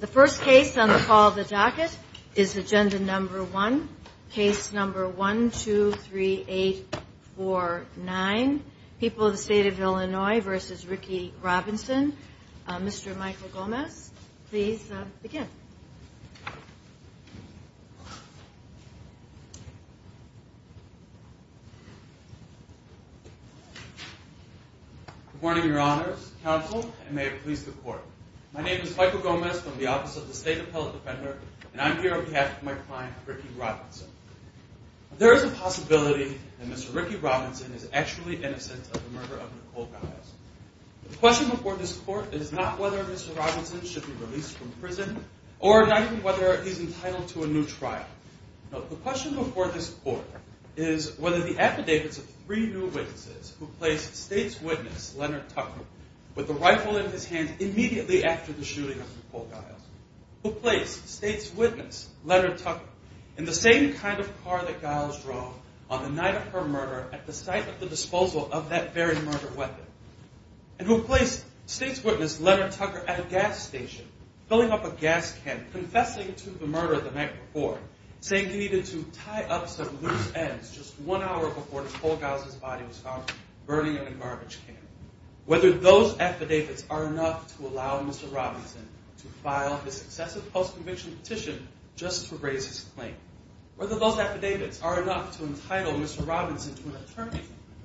The first case on the call of the docket is agenda number one. Case number one, two, three, eight, four, nine. People of the State of Illinois v. Ricky Robinson. Mr. Michael Gomez, please begin. Good morning, Your Honors, Counsel, and may it please the Court. My name is Michael Gomez from the Office of the State Appellate Defender, and I'm here on behalf of my client, Ricky Robinson. There is a possibility that Mr. Ricky Robinson is actually innocent of the murder of Nicole Giles. The question before this Court is not whether Mr. Robinson should be released from prison or not even whether he's entitled to a new trial. No, the question before this Court is whether the affidavits of three new witnesses who placed State's witness, Leonard Tucker, with a rifle in his hand immediately after the shooting of Nicole Giles, who placed State's witness, Leonard Tucker, in the same kind of car that Giles drove on the night of her murder at the site of the disposal of that very murder weapon, and who placed State's witness, Leonard Tucker, at a gas station, filling up a gas can, confessing to the murder the night before, saying he needed to tie up some loose ends just one hour before Nicole Giles' body was found burning in a garbage can, whether those affidavits are enough to allow Mr. Robinson to file his successive post-conviction petition just to raise his claim, whether those affidavits are enough to entitle Mr. Robinson to an attorney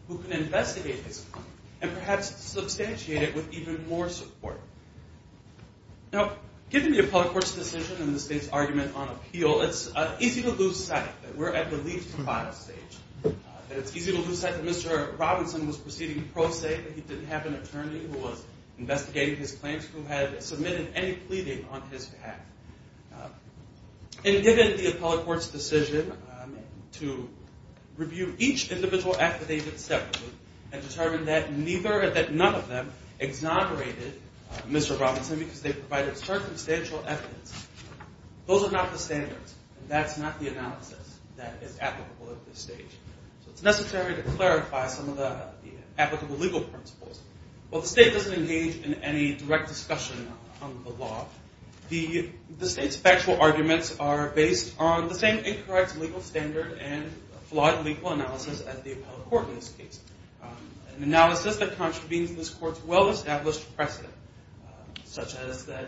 who can investigate his claim and perhaps substantiate it with even more support. Now, given the appellate court's decision and the State's argument on appeal, it's easy to lose sight that we're at the leave to file stage, that it's easy to lose sight that Mr. Robinson was proceeding pro se, that he didn't have an attorney who was investigating his claims, who had submitted any pleading on his behalf. And given the appellate court's decision to review each individual affidavit separately and determine that none of them exonerated Mr. Robinson because they provided circumstantial evidence, those are not the standards, and that's not the analysis that is applicable at this stage. So it's necessary to clarify some of the applicable legal principles. While the State doesn't engage in any direct discussion on the law, the State's factual arguments are based on the same incorrect legal standard and flawed legal analysis as the appellate court in this case, an analysis that contravenes this court's well-established precedent, such as that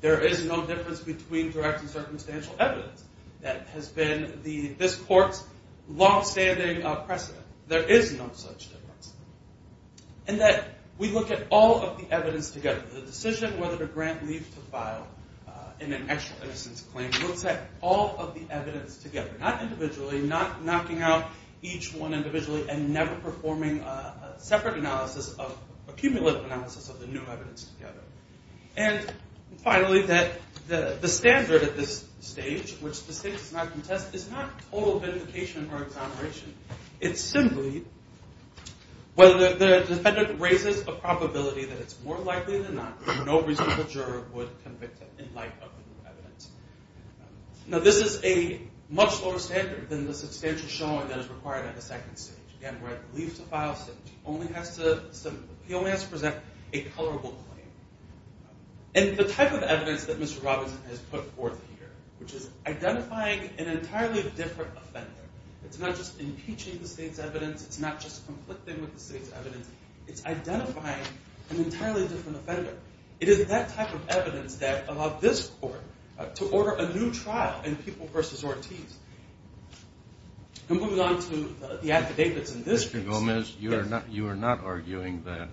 there is no difference between direct and circumstantial evidence. That has been this court's longstanding precedent. There is no such difference. And that we look at all of the evidence together, the decision whether to grant leave to file in an extra innocence claim looks at all of the evidence together, not individually, not knocking out each one individually and never performing a separate analysis, a cumulative analysis of the new evidence together. And finally, that the standard at this stage, which the State does not contest, is not total vindication or exoneration. It's simply whether the defendant raises a probability that it's more likely than not that no reasonable juror would convict him in light of the new evidence. Now, this is a much lower standard than the substantial showing that is required at the second stage, where the leave to file stage only has to present a colorable claim. And the type of evidence that Mr. Robinson has put forth here, which is identifying an entirely different offender, it's not just impeaching the State's evidence, it's not just conflicting with the State's evidence, it's identifying an entirely different offender. It is that type of evidence that allowed this court to order a new trial in People v. Ortiz. And moving on to the affidavits in this case. Mr. Gomez, you are not arguing that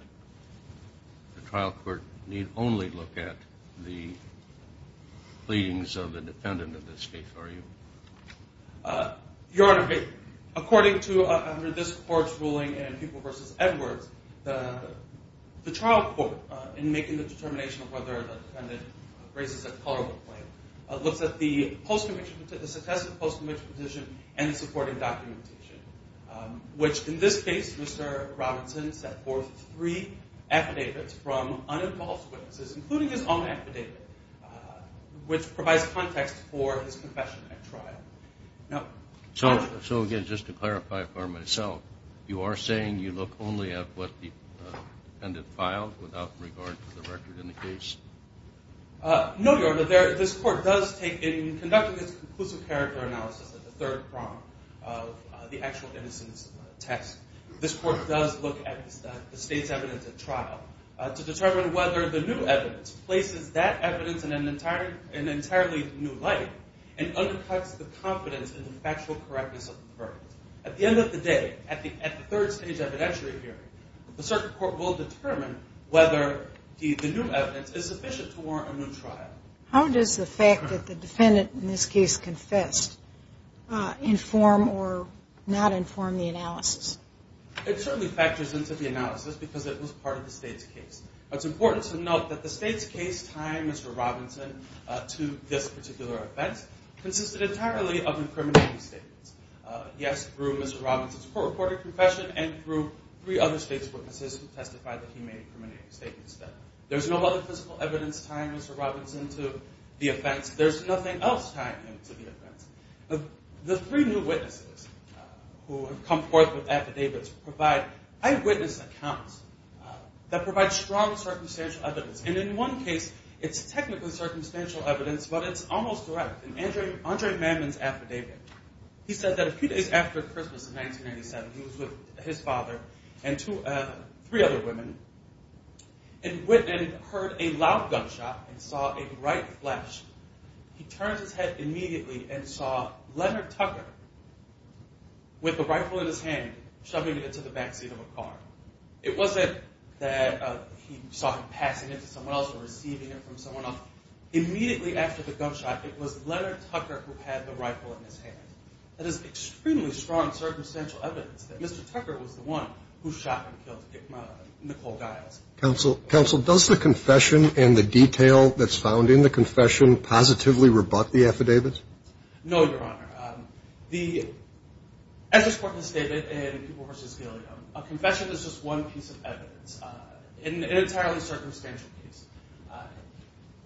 the trial court need only look at the pleadings of the defendant in this case, are you? Your Honor, according to this court's ruling in People v. Edwards, the trial court, in making the determination of whether the defendant raises a colorable claim, looks at the successive post-conviction petition and the supporting documentation, which in this case, Mr. Robinson set forth three affidavits from uninvolved witnesses, including his own affidavit, which provides context for his confession at trial. No. So again, just to clarify for myself, you are saying you look only at what the defendant filed without regard to the record in the case? No, Your Honor. This court does take, in conducting its conclusive character analysis at the third prong of the actual innocence test, this court does look at the State's evidence at trial to determine whether the new evidence places that evidence in an entirely new light and undercuts the confidence in the factual correctness of the verdict. At the end of the day, at the third stage evidentiary hearing, the circuit court will determine whether the new evidence is sufficient to warrant a new trial. How does the fact that the defendant in this case confessed inform or not inform the analysis? It certainly factors into the analysis because it was part of the State's case. It's important to note that the State's case tying Mr. Robinson to this particular offense consisted entirely of incriminating statements. Yes, through Mr. Robinson's court-reported confession and through three other State's witnesses who testified that he made incriminating statements. There's no other physical evidence tying Mr. Robinson to the offense. There's nothing else tying him to the offense. The three new witnesses who have come forth with affidavits provide eyewitness accounts that provide strong circumstantial evidence. In one case, it's technically circumstantial evidence, but it's almost correct. In Andre Mammon's affidavit, he says that a few days after Christmas in 1997, he was with his father and three other women and heard a loud gunshot and saw a bright flash. He turned his head immediately and saw Leonard Tucker with a rifle in his hand shoving it into the back seat of a car. It wasn't that he saw him passing it to someone else or receiving it from someone else. Immediately after the gunshot, it was Leonard Tucker who had the rifle in his hand. That is extremely strong circumstantial evidence that Mr. Tucker was the one who shot and killed Nicole Giles. Counsel, does the confession and the detail that's found in the confession positively rebut the affidavits? No, Your Honor. As this court has stated in Peeble v. Gilliam, a confession is just one piece of evidence, an entirely circumstantial piece.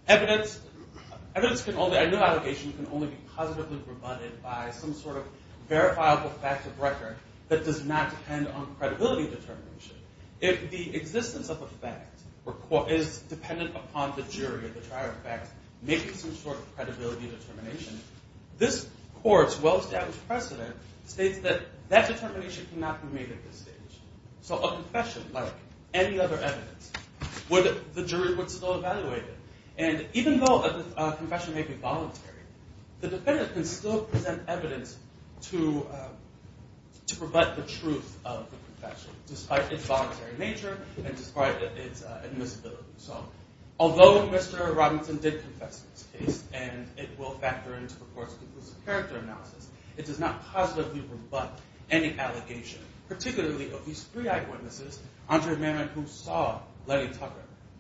Evidence can only, I know allegations can only be positively rebutted by some sort of verifiable fact of record that does not depend on credibility determination. If the existence of a fact is dependent upon the jury, the trial of fact, making some sort of credibility determination, this court's well-established precedent states that that determination cannot be made at this stage. So a confession, like any other evidence, the jury would still evaluate it. And even though a confession may be voluntary, the defendant can still present evidence to rebut the truth of the confession, despite its voluntary nature and despite its admissibility. So although Mr. Robinson did confess in this case, and it will factor into the court's conclusive character analysis, it does not positively rebut any allegation, particularly of these three eyewitnesses, Andre Merritt, who saw Lenny Tucker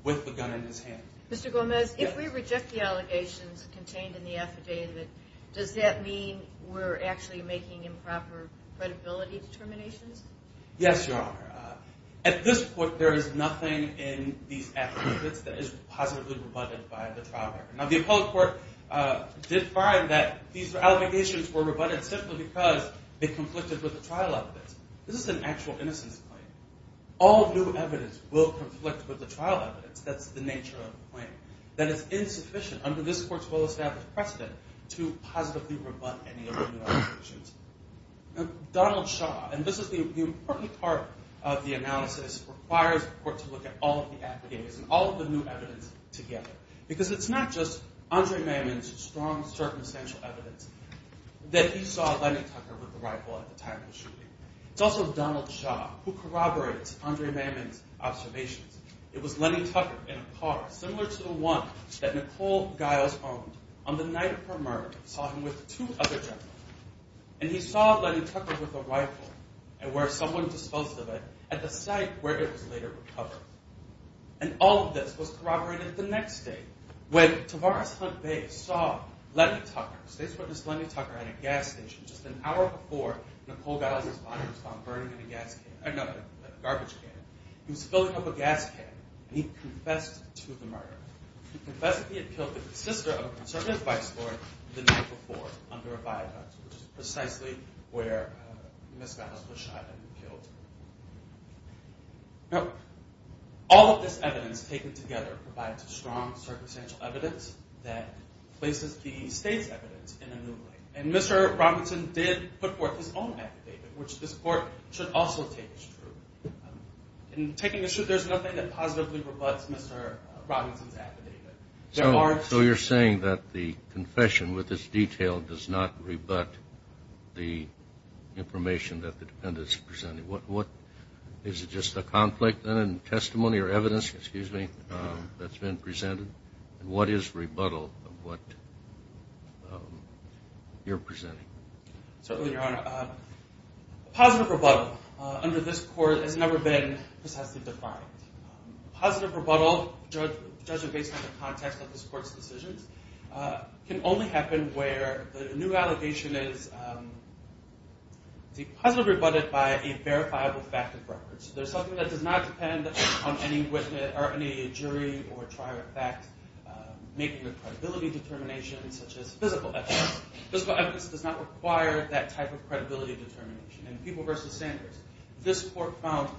with the gun in his hand. Mr. Gomez, if we reject the allegations contained in the affidavit, does that mean we're actually making improper credibility determinations? Yes, Your Honor. At this point, there is nothing in these affidavits that is positively rebutted by the trial record. Now, the appellate court did find that these allegations were rebutted simply because they conflicted with the trial evidence. This is an actual innocence claim. All new evidence will conflict with the trial evidence. That's the nature of the claim. That is insufficient under this court's well-established precedent to positively rebut any of the allegations. Donald Shaw, and this is the important part of the analysis, requires the court to look at all of the affidavits and all of the new evidence together, because it's not just Andre Mammon's strong circumstantial evidence that he saw Lenny Tucker with the rifle at the time of the shooting. It's also Donald Shaw who corroborates Andre Mammon's observations. It was Lenny Tucker in a car similar to the one that Nicole Giles owned on the night of her murder. He saw him with two other gentlemen. And he saw Lenny Tucker with a rifle and where someone disposed of it at the site where it was later recovered. And all of this was corroborated the next day when Tavares Hunt Bay saw Lenny Tucker, the state's witness Lenny Tucker at a gas station just an hour before Nicole Giles' body was found burning in a garbage can. He was filling up a gas can, and he confessed to the murder. He confessed that he had killed the sister of a conservative vice lord the night before under a viaduct, which is precisely where Ms. Giles was shot and killed. Now, all of this evidence taken together provides a strong circumstantial evidence that places the state's evidence in a new light. And Mr. Robinson did put forth his own affidavit, which this court should also take as true. In taking this truth, there's nothing that positively rebuts Mr. Robinson's affidavit. So you're saying that the confession with this detail does not rebut the information that the defendant is presenting? Is it just a conflict in testimony or evidence that's been presented? What is rebuttal of what you're presenting? Certainly, Your Honor. Positive rebuttal under this court has never been precisely defined. Positive rebuttal, judging based on the context of this court's decisions, can only happen where the new allegation is positively rebutted by a verifiable fact of record. So there's something that does not depend on any jury or trial of fact making a credibility determination such as physical evidence. Physical evidence does not require that type of credibility determination. In People v. Sanders, this court found,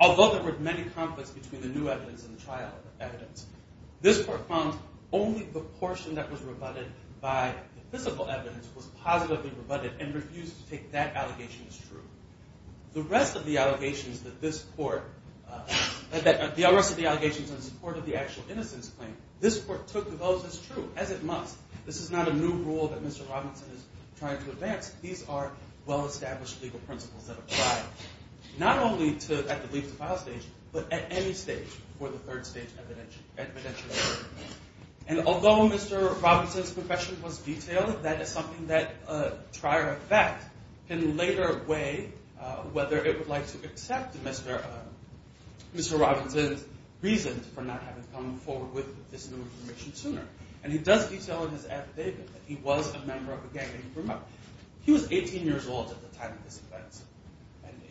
although there were many conflicts between the new evidence and the trial evidence, this court found only the portion that was rebutted by the physical evidence was positively rebutted and refused to take that allegation as true. The rest of the allegations on support of the actual innocence claim, this court took those as true, as it must. This is not a new rule that Mr. Robinson is trying to advance. These are well-established legal principles that apply, not only at the leaf to file stage, but at any stage before the third stage evidentiary hearing. And although Mr. Robinson's confession was detailed, that is something that a trier of fact can later weigh whether it would like to accept Mr. Robinson's reasons for not having come forward with this new information sooner. And he does detail in his affidavit that he was a member of a gang that he grew up. He was 18 years old at the time of this event.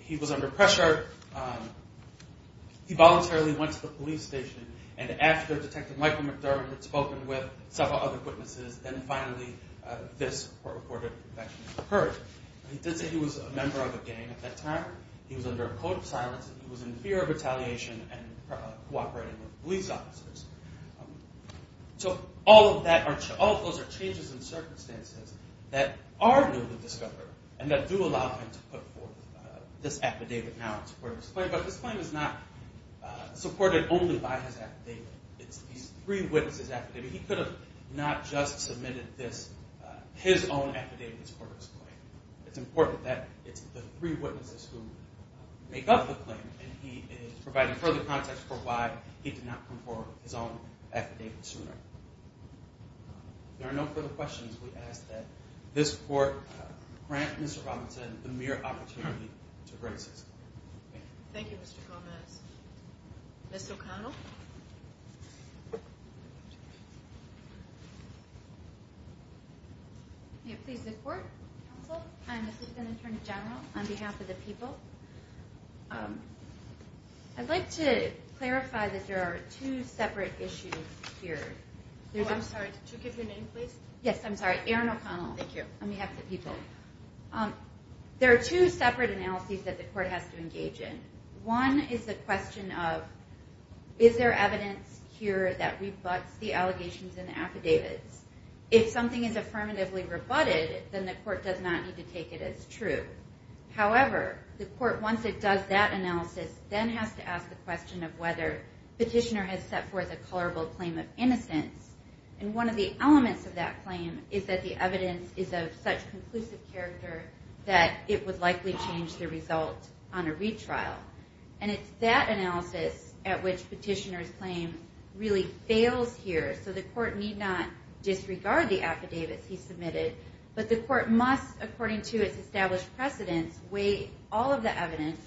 He was under pressure. He voluntarily went to the police station, and after Detective Michael McDermott had spoken with several other witnesses, then finally this court-reported conviction occurred. He did say he was a member of a gang at that time. He was under a code of silence, and he was in fear of retaliation and cooperating with police officers. So all of those are changes in circumstances that are new to Discover, and that do allow him to put forth this affidavit now in support of his claim. But this claim is not supported only by his affidavit. It's these three witnesses' affidavit. He could have not just submitted his own affidavit in support of his claim. It's important that it's the three witnesses who make up the claim, and he is providing further context for why he did not put forth his own affidavit sooner. If there are no further questions, we ask that this court grant Mr. Robinson the mere opportunity to bring this case forward. Thank you, Mr. Gomez. Ms. O'Connell? May it please the Court, Counsel, and Assistant Attorney General, on behalf of the people, I'd like to clarify that there are two separate issues here. Oh, I'm sorry. Could you give your name, please? Yes, I'm sorry. Erin O'Connell. Thank you. On behalf of the people. There are two separate analyses that the court has to engage in. One is the question of, is there evidence here that rebuts the allegations in the affidavits? If something is affirmatively rebutted, then the court does not need to take it as true. However, the court, once it does that analysis, then has to ask the question of whether Petitioner has set forth a colorable claim of innocence. And one of the elements of that claim is that the evidence is of such conclusive character that it would likely change the result on a retrial. And it's that analysis at which Petitioner's claim really fails here. So the court need not disregard the affidavits he submitted, but the court must, according to its established precedence, weigh all of the evidence,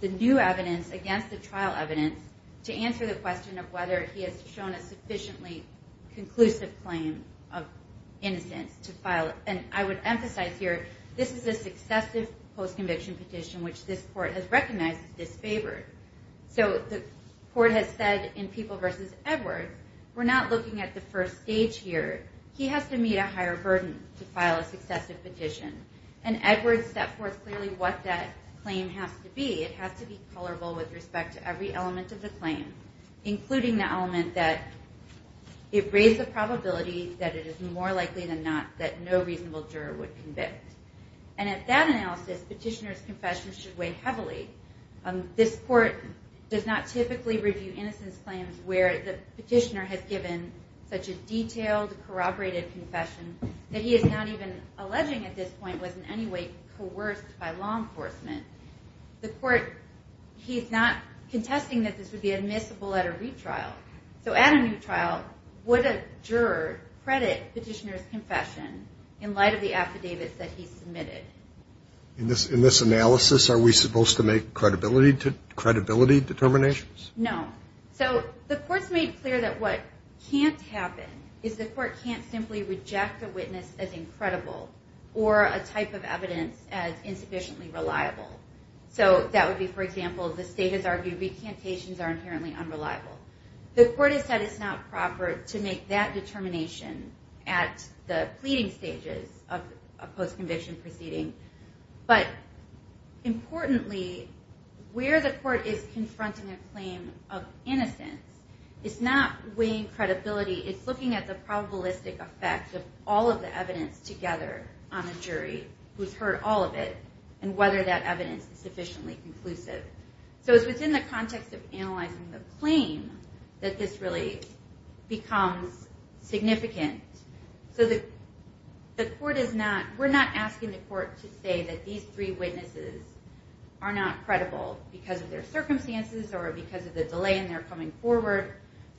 the new evidence against the trial evidence, to answer the question of whether he has shown a sufficiently conclusive claim of innocence to file. And I would emphasize here, this is a successive post-conviction petition, which this court has recognized as disfavored. So the court has said in People v. Edwards, we're not looking at the first stage here. He has to meet a higher burden to file a successive petition. And Edwards set forth clearly what that claim has to be. It has to be colorable with respect to every element of the claim, including the element that it raised the probability that it is more likely than not that no reasonable juror would convict. And at that analysis, Petitioner's confession should weigh heavily. This court does not typically review innocence claims where the petitioner has given such a detailed, corroborated confession that he is not even alleging at this point was in any way coerced by law enforcement. The court, he's not contesting that this would be admissible at a retrial. So at a new trial, would a juror credit Petitioner's confession in light of the affidavits that he submitted? In this analysis, are we supposed to make credibility determinations? No. So the court's made clear that what can't happen is the court can't simply reject a witness as incredible or a type of evidence as insufficiently reliable. So that would be, for example, the state has argued recantations are inherently unreliable. The court has said it's not proper to make that determination at the pleading stages of a post-conviction proceeding. But importantly, where the court is confronting a claim of innocence is not weighing credibility. It's looking at the probabilistic effect of all of the evidence together on the jury who's heard all of it and whether that evidence is sufficiently conclusive. So it's within the context of analyzing the claim that this really becomes significant. So we're not asking the court to say that these three witnesses are not credible because of their circumstances or because of the delay in their coming forward.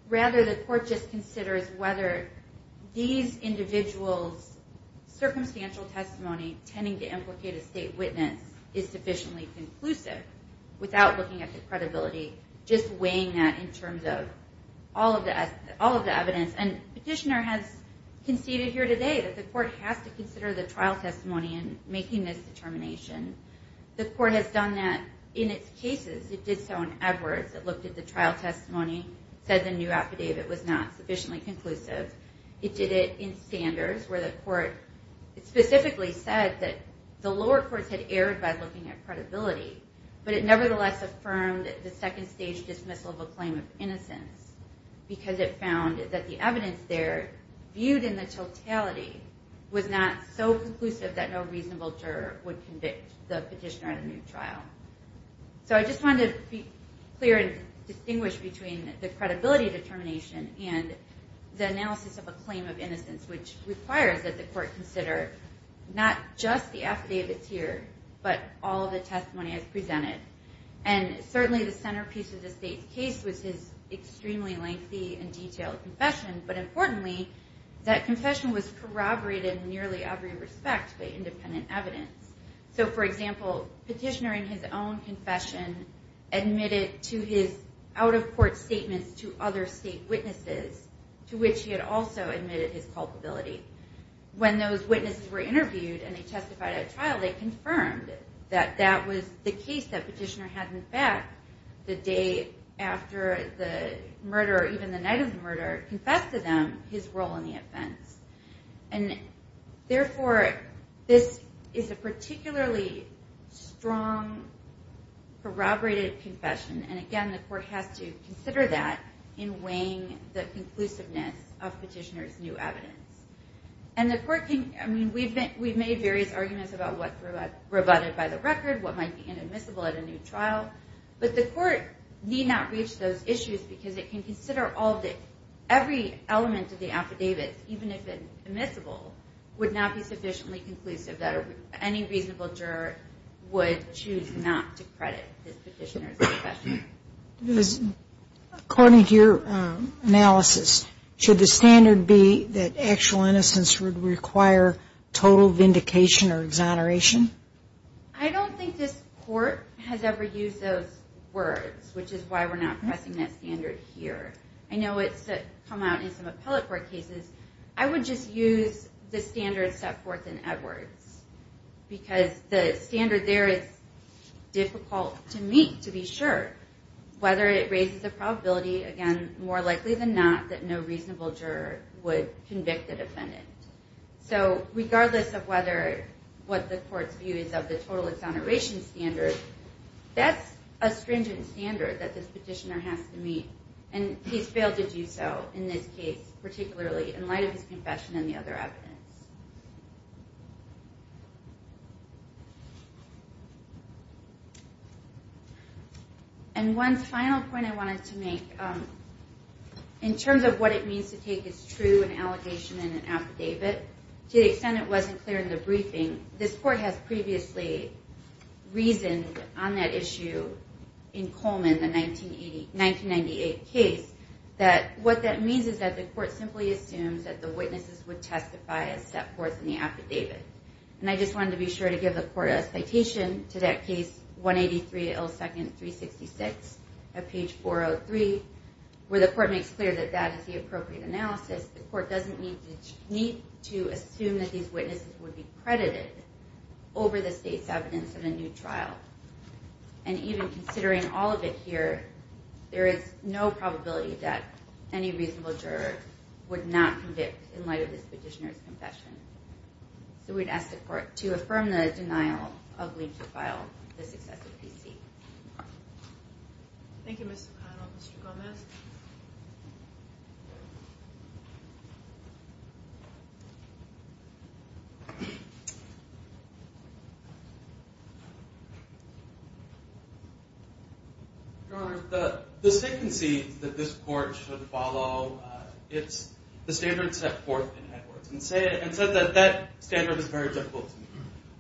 Rather, the court just considers whether these individuals' circumstantial testimony tending to implicate a state witness is sufficiently conclusive without looking at the credibility, just weighing that in terms of all of the evidence. And Petitioner has conceded here today that the court has to consider the trial testimony in making this determination. The court has done that in its cases. It did so in Edwards. It looked at the trial testimony, said the new affidavit was not sufficiently conclusive. It did it in Sanders, where the court specifically said that the lower courts had erred by looking at credibility. But it nevertheless affirmed the second-stage dismissal of a claim of innocence because it found that the evidence there, viewed in the totality, was not so conclusive that no reasonable juror would convict the petitioner at a new trial. So I just wanted to be clear and distinguish between the credibility determination and the analysis of a claim of innocence, which requires that the court consider not just the affidavit here, but all of the testimony as presented. And certainly the centerpiece of the state's case was his extremely lengthy and detailed confession, but importantly, that confession was corroborated in nearly every respect by independent evidence. So for example, Petitioner in his own confession admitted to his out-of-court statements to other state witnesses, to which he had also admitted his culpability. When those witnesses were interviewed and they testified at trial, they confirmed that that was the case that Petitioner had, in fact, the day after the murder, or even the night of the murder, confessed to them his role in the offense. And therefore, this is a particularly strong, corroborated confession. And again, the court has to consider that in weighing the conclusiveness of Petitioner's new evidence. And the court can, I mean, we've made various arguments about what's rebutted by the record, what might be inadmissible at a new trial, but the court need not reach those issues because it can consider all the, every element of the affidavit, even if it's admissible, would not be sufficiently conclusive that any reasonable juror would choose not to credit this Petitioner's confession. According to your analysis, should the standard be that actual innocence would require total vindication or exoneration? I don't think this court has ever used those words, which is why we're not pressing that standard here. I know it's come out in some appellate court cases. I would just use the standard set forth in Edwards because the standard there is difficult to meet, to be sure, whether it raises the probability, again, more likely than not, that no reasonable juror would convict the defendant. So regardless of whether, what the court's view is of the total exoneration standard, that's a stringent standard that this Petitioner has to meet, and he's failed to do so in this case, particularly in light of his confession and the other evidence. And one final point I wanted to make, in terms of what it means to take as true an allegation in an affidavit, to the extent it wasn't clear in the briefing, this court has previously reasoned on that issue in Coleman, the 1998 case, that what that means is that the court simply assumes that the witnesses would testify as such. And I just wanted to be sure to give the court a citation to that case, 183, L2, 366, at page 403, where the court makes clear that that is the appropriate analysis. The court doesn't need to assume that these witnesses would be credited over the state's evidence in a new trial. And even considering all of it here, there is no probability that any reasonable juror would not convict in light of this petitioner's confession. So we'd ask the court to affirm the denial of leave to file this excessive PC. Thank you, Ms. O'Connell. Mr. Gomez? Your Honor, the secrecy that this court should follow, it's the standard set forth in Edwards, and said that that standard is very difficult to meet.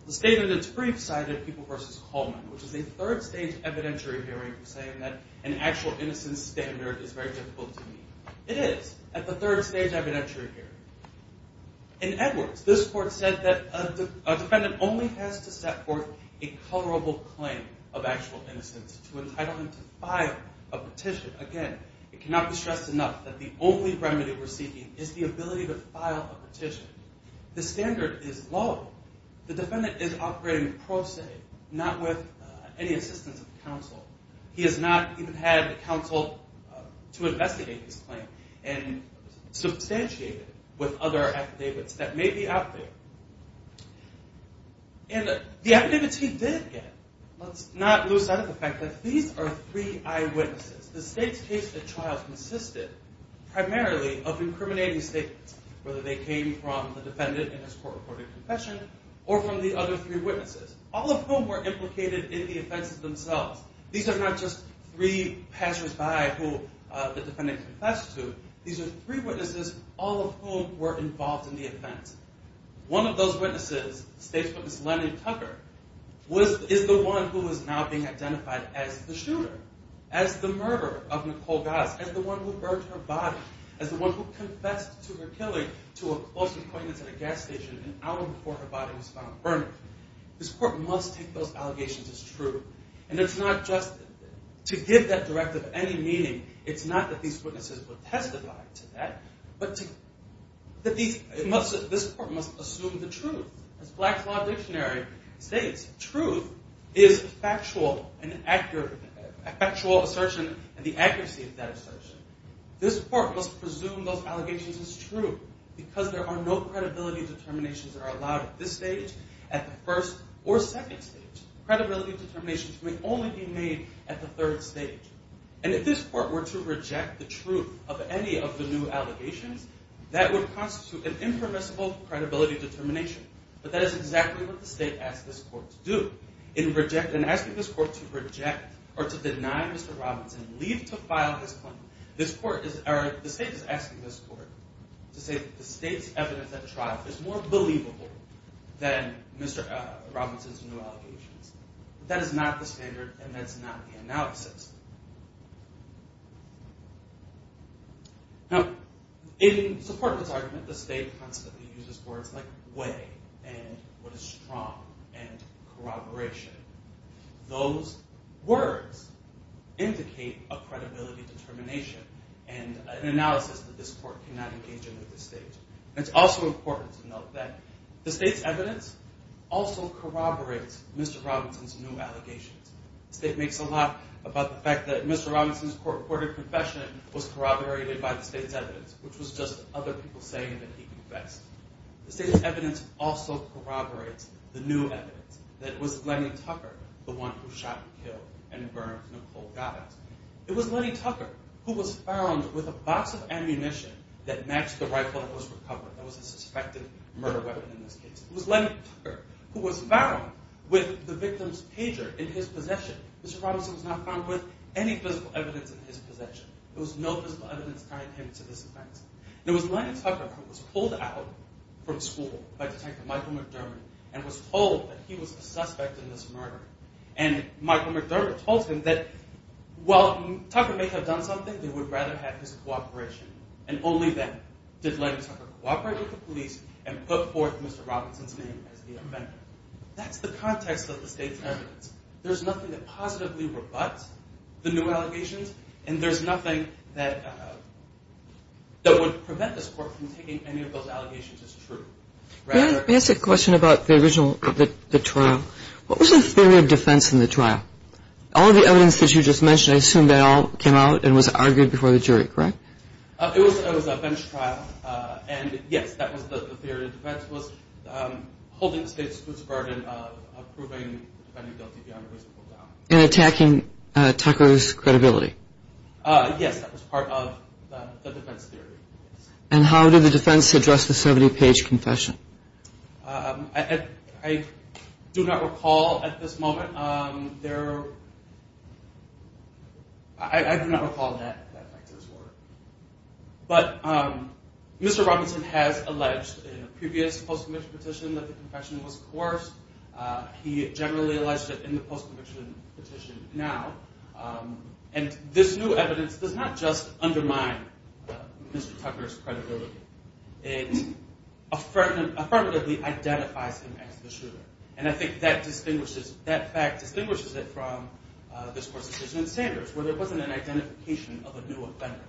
The standard in its brief cited, People v. Coleman, which is a third-stage evidentiary hearing saying that an actual innocence standard is very difficult to meet. It is at the third-stage evidentiary hearing. In Edwards, this court said that a defendant only has to set forth a colorable claim of actual innocence to entitle him to file a petition. Again, it cannot be stressed enough that the only remedy we're seeking is the ability to file a petition. The standard is low. The defendant is operating pro se, not with any assistance of counsel. He has not even had counsel to investigate his claim and substantiate it with other affidavits that may be out there. And the affidavits he did get, let's not lose sight of the fact that these are three eyewitnesses. The state's case at trial consisted primarily of incriminating statements, whether they came from the defendant in his court-reported confession or from the other three witnesses, all of whom were implicated in the offenses themselves. These are not just three passers-by who the defendant confessed to. These are three witnesses, all of whom were involved in the offense. One of those witnesses, state's witness Leonard Tucker, is the one who is now being identified as the shooter, as the murderer of Nicole Goss, as the one who burned her body, as the one who confessed to her killing to a close acquaintance at a gas station an hour before her body was found burned. This court must take those allegations as true. And it's not just to give that directive any meaning. It's not that these witnesses would testify to that, but that this court must assume the truth. As Black's Law Dictionary states, truth is a factual assertion and the accuracy of that assertion. This court must presume those allegations as true because there are no credibility determinations that are allowed at this stage, at the first or second stage. Credibility determinations may only be made at the third stage. And if this court were to reject the truth of any of the new allegations, that would constitute an impermissible credibility determination. But that is exactly what the state asked this court to do. In asking this court to reject or to deny Mr. Robinson, leave to file his claim, the state is asking this court to say that the state's evidence at trial is more believable than Mr. Robinson's new allegations. But that is not the standard, and that's not the analysis. Now, in support of this argument, the state constantly uses words like way and what is strong and corroboration. Those words indicate a credibility determination and an analysis that this court cannot engage in at this stage. It's also important to note that the state's evidence also corroborates Mr. Robinson's new allegations. The state makes a lot about the credibility determination and the fact that Mr. Robinson's court-reported confession was corroborated by the state's evidence, which was just other people saying that he confessed. The state's evidence also corroborates the new evidence, that it was Lenny Tucker, the one who shot and killed and burned Nicole Gattas. It was Lenny Tucker who was found with a box of ammunition that matched the rifle that was recovered. That was a suspected murder weapon in this case. It was Lenny Tucker who was found with the victim's pager in his possession. Mr. Robinson was not found with any physical evidence in his possession. There was no physical evidence tying him to this offense. It was Lenny Tucker who was pulled out from school by Detective Michael McDermott and was told that he was a suspect in this murder. And Michael McDermott told him that while Tucker may have done something, they would rather have his cooperation. And only then did Lenny Tucker cooperate with the police and put forth Mr. Robinson's name as the offender. That's the context of the state's evidence. There's nothing that positively rebuts the new allegations and there's nothing that would prevent this court from taking any of those allegations as true. Let me ask a question about the original trial. What was the theory of defense in the trial? All the evidence that you just mentioned, I assume that all came out and was argued before the jury, correct? And yes, that was the theory of defense, was holding the state to its burden of proving the defendant guilty beyond a reasonable doubt. And attacking Tucker's credibility? Yes, that was part of the defense theory. And how did the defense address the 70-page confession? I do not recall at this moment. I do not recall that fact at this moment. But Mr. Robinson has alleged in a previous post-conviction petition that the confession was coerced. He generally alleged it in the post-conviction petition now. And this new evidence does not just undermine Mr. Tucker's credibility. It affirmatively identifies him as the shooter. And I think that fact distinguishes it from this court's decision in Sanders where there wasn't an identification of a new offender.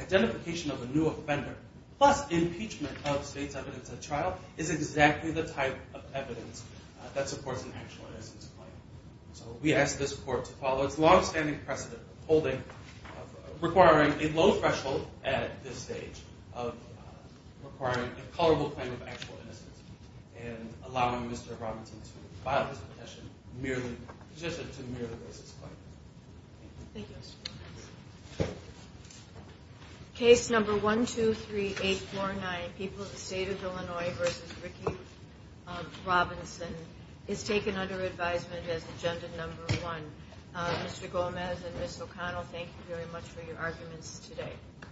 Identification of a new offender plus impeachment of state's evidence at trial is exactly the type of evidence that supports an actual innocence claim. So we ask this court to follow its long-standing precedent of requiring a low threshold at this stage of requiring a culpable claim of actual innocence and allowing Mr. Robinson to file this petition to merely raise its claim. Thank you, Mr. Gomez. Case number 123849, People of the State of Illinois v. Ricky Robinson, is taken under advisement as agenda number one. Mr. Gomez and Ms. O'Connell, thank you very much for your arguments today.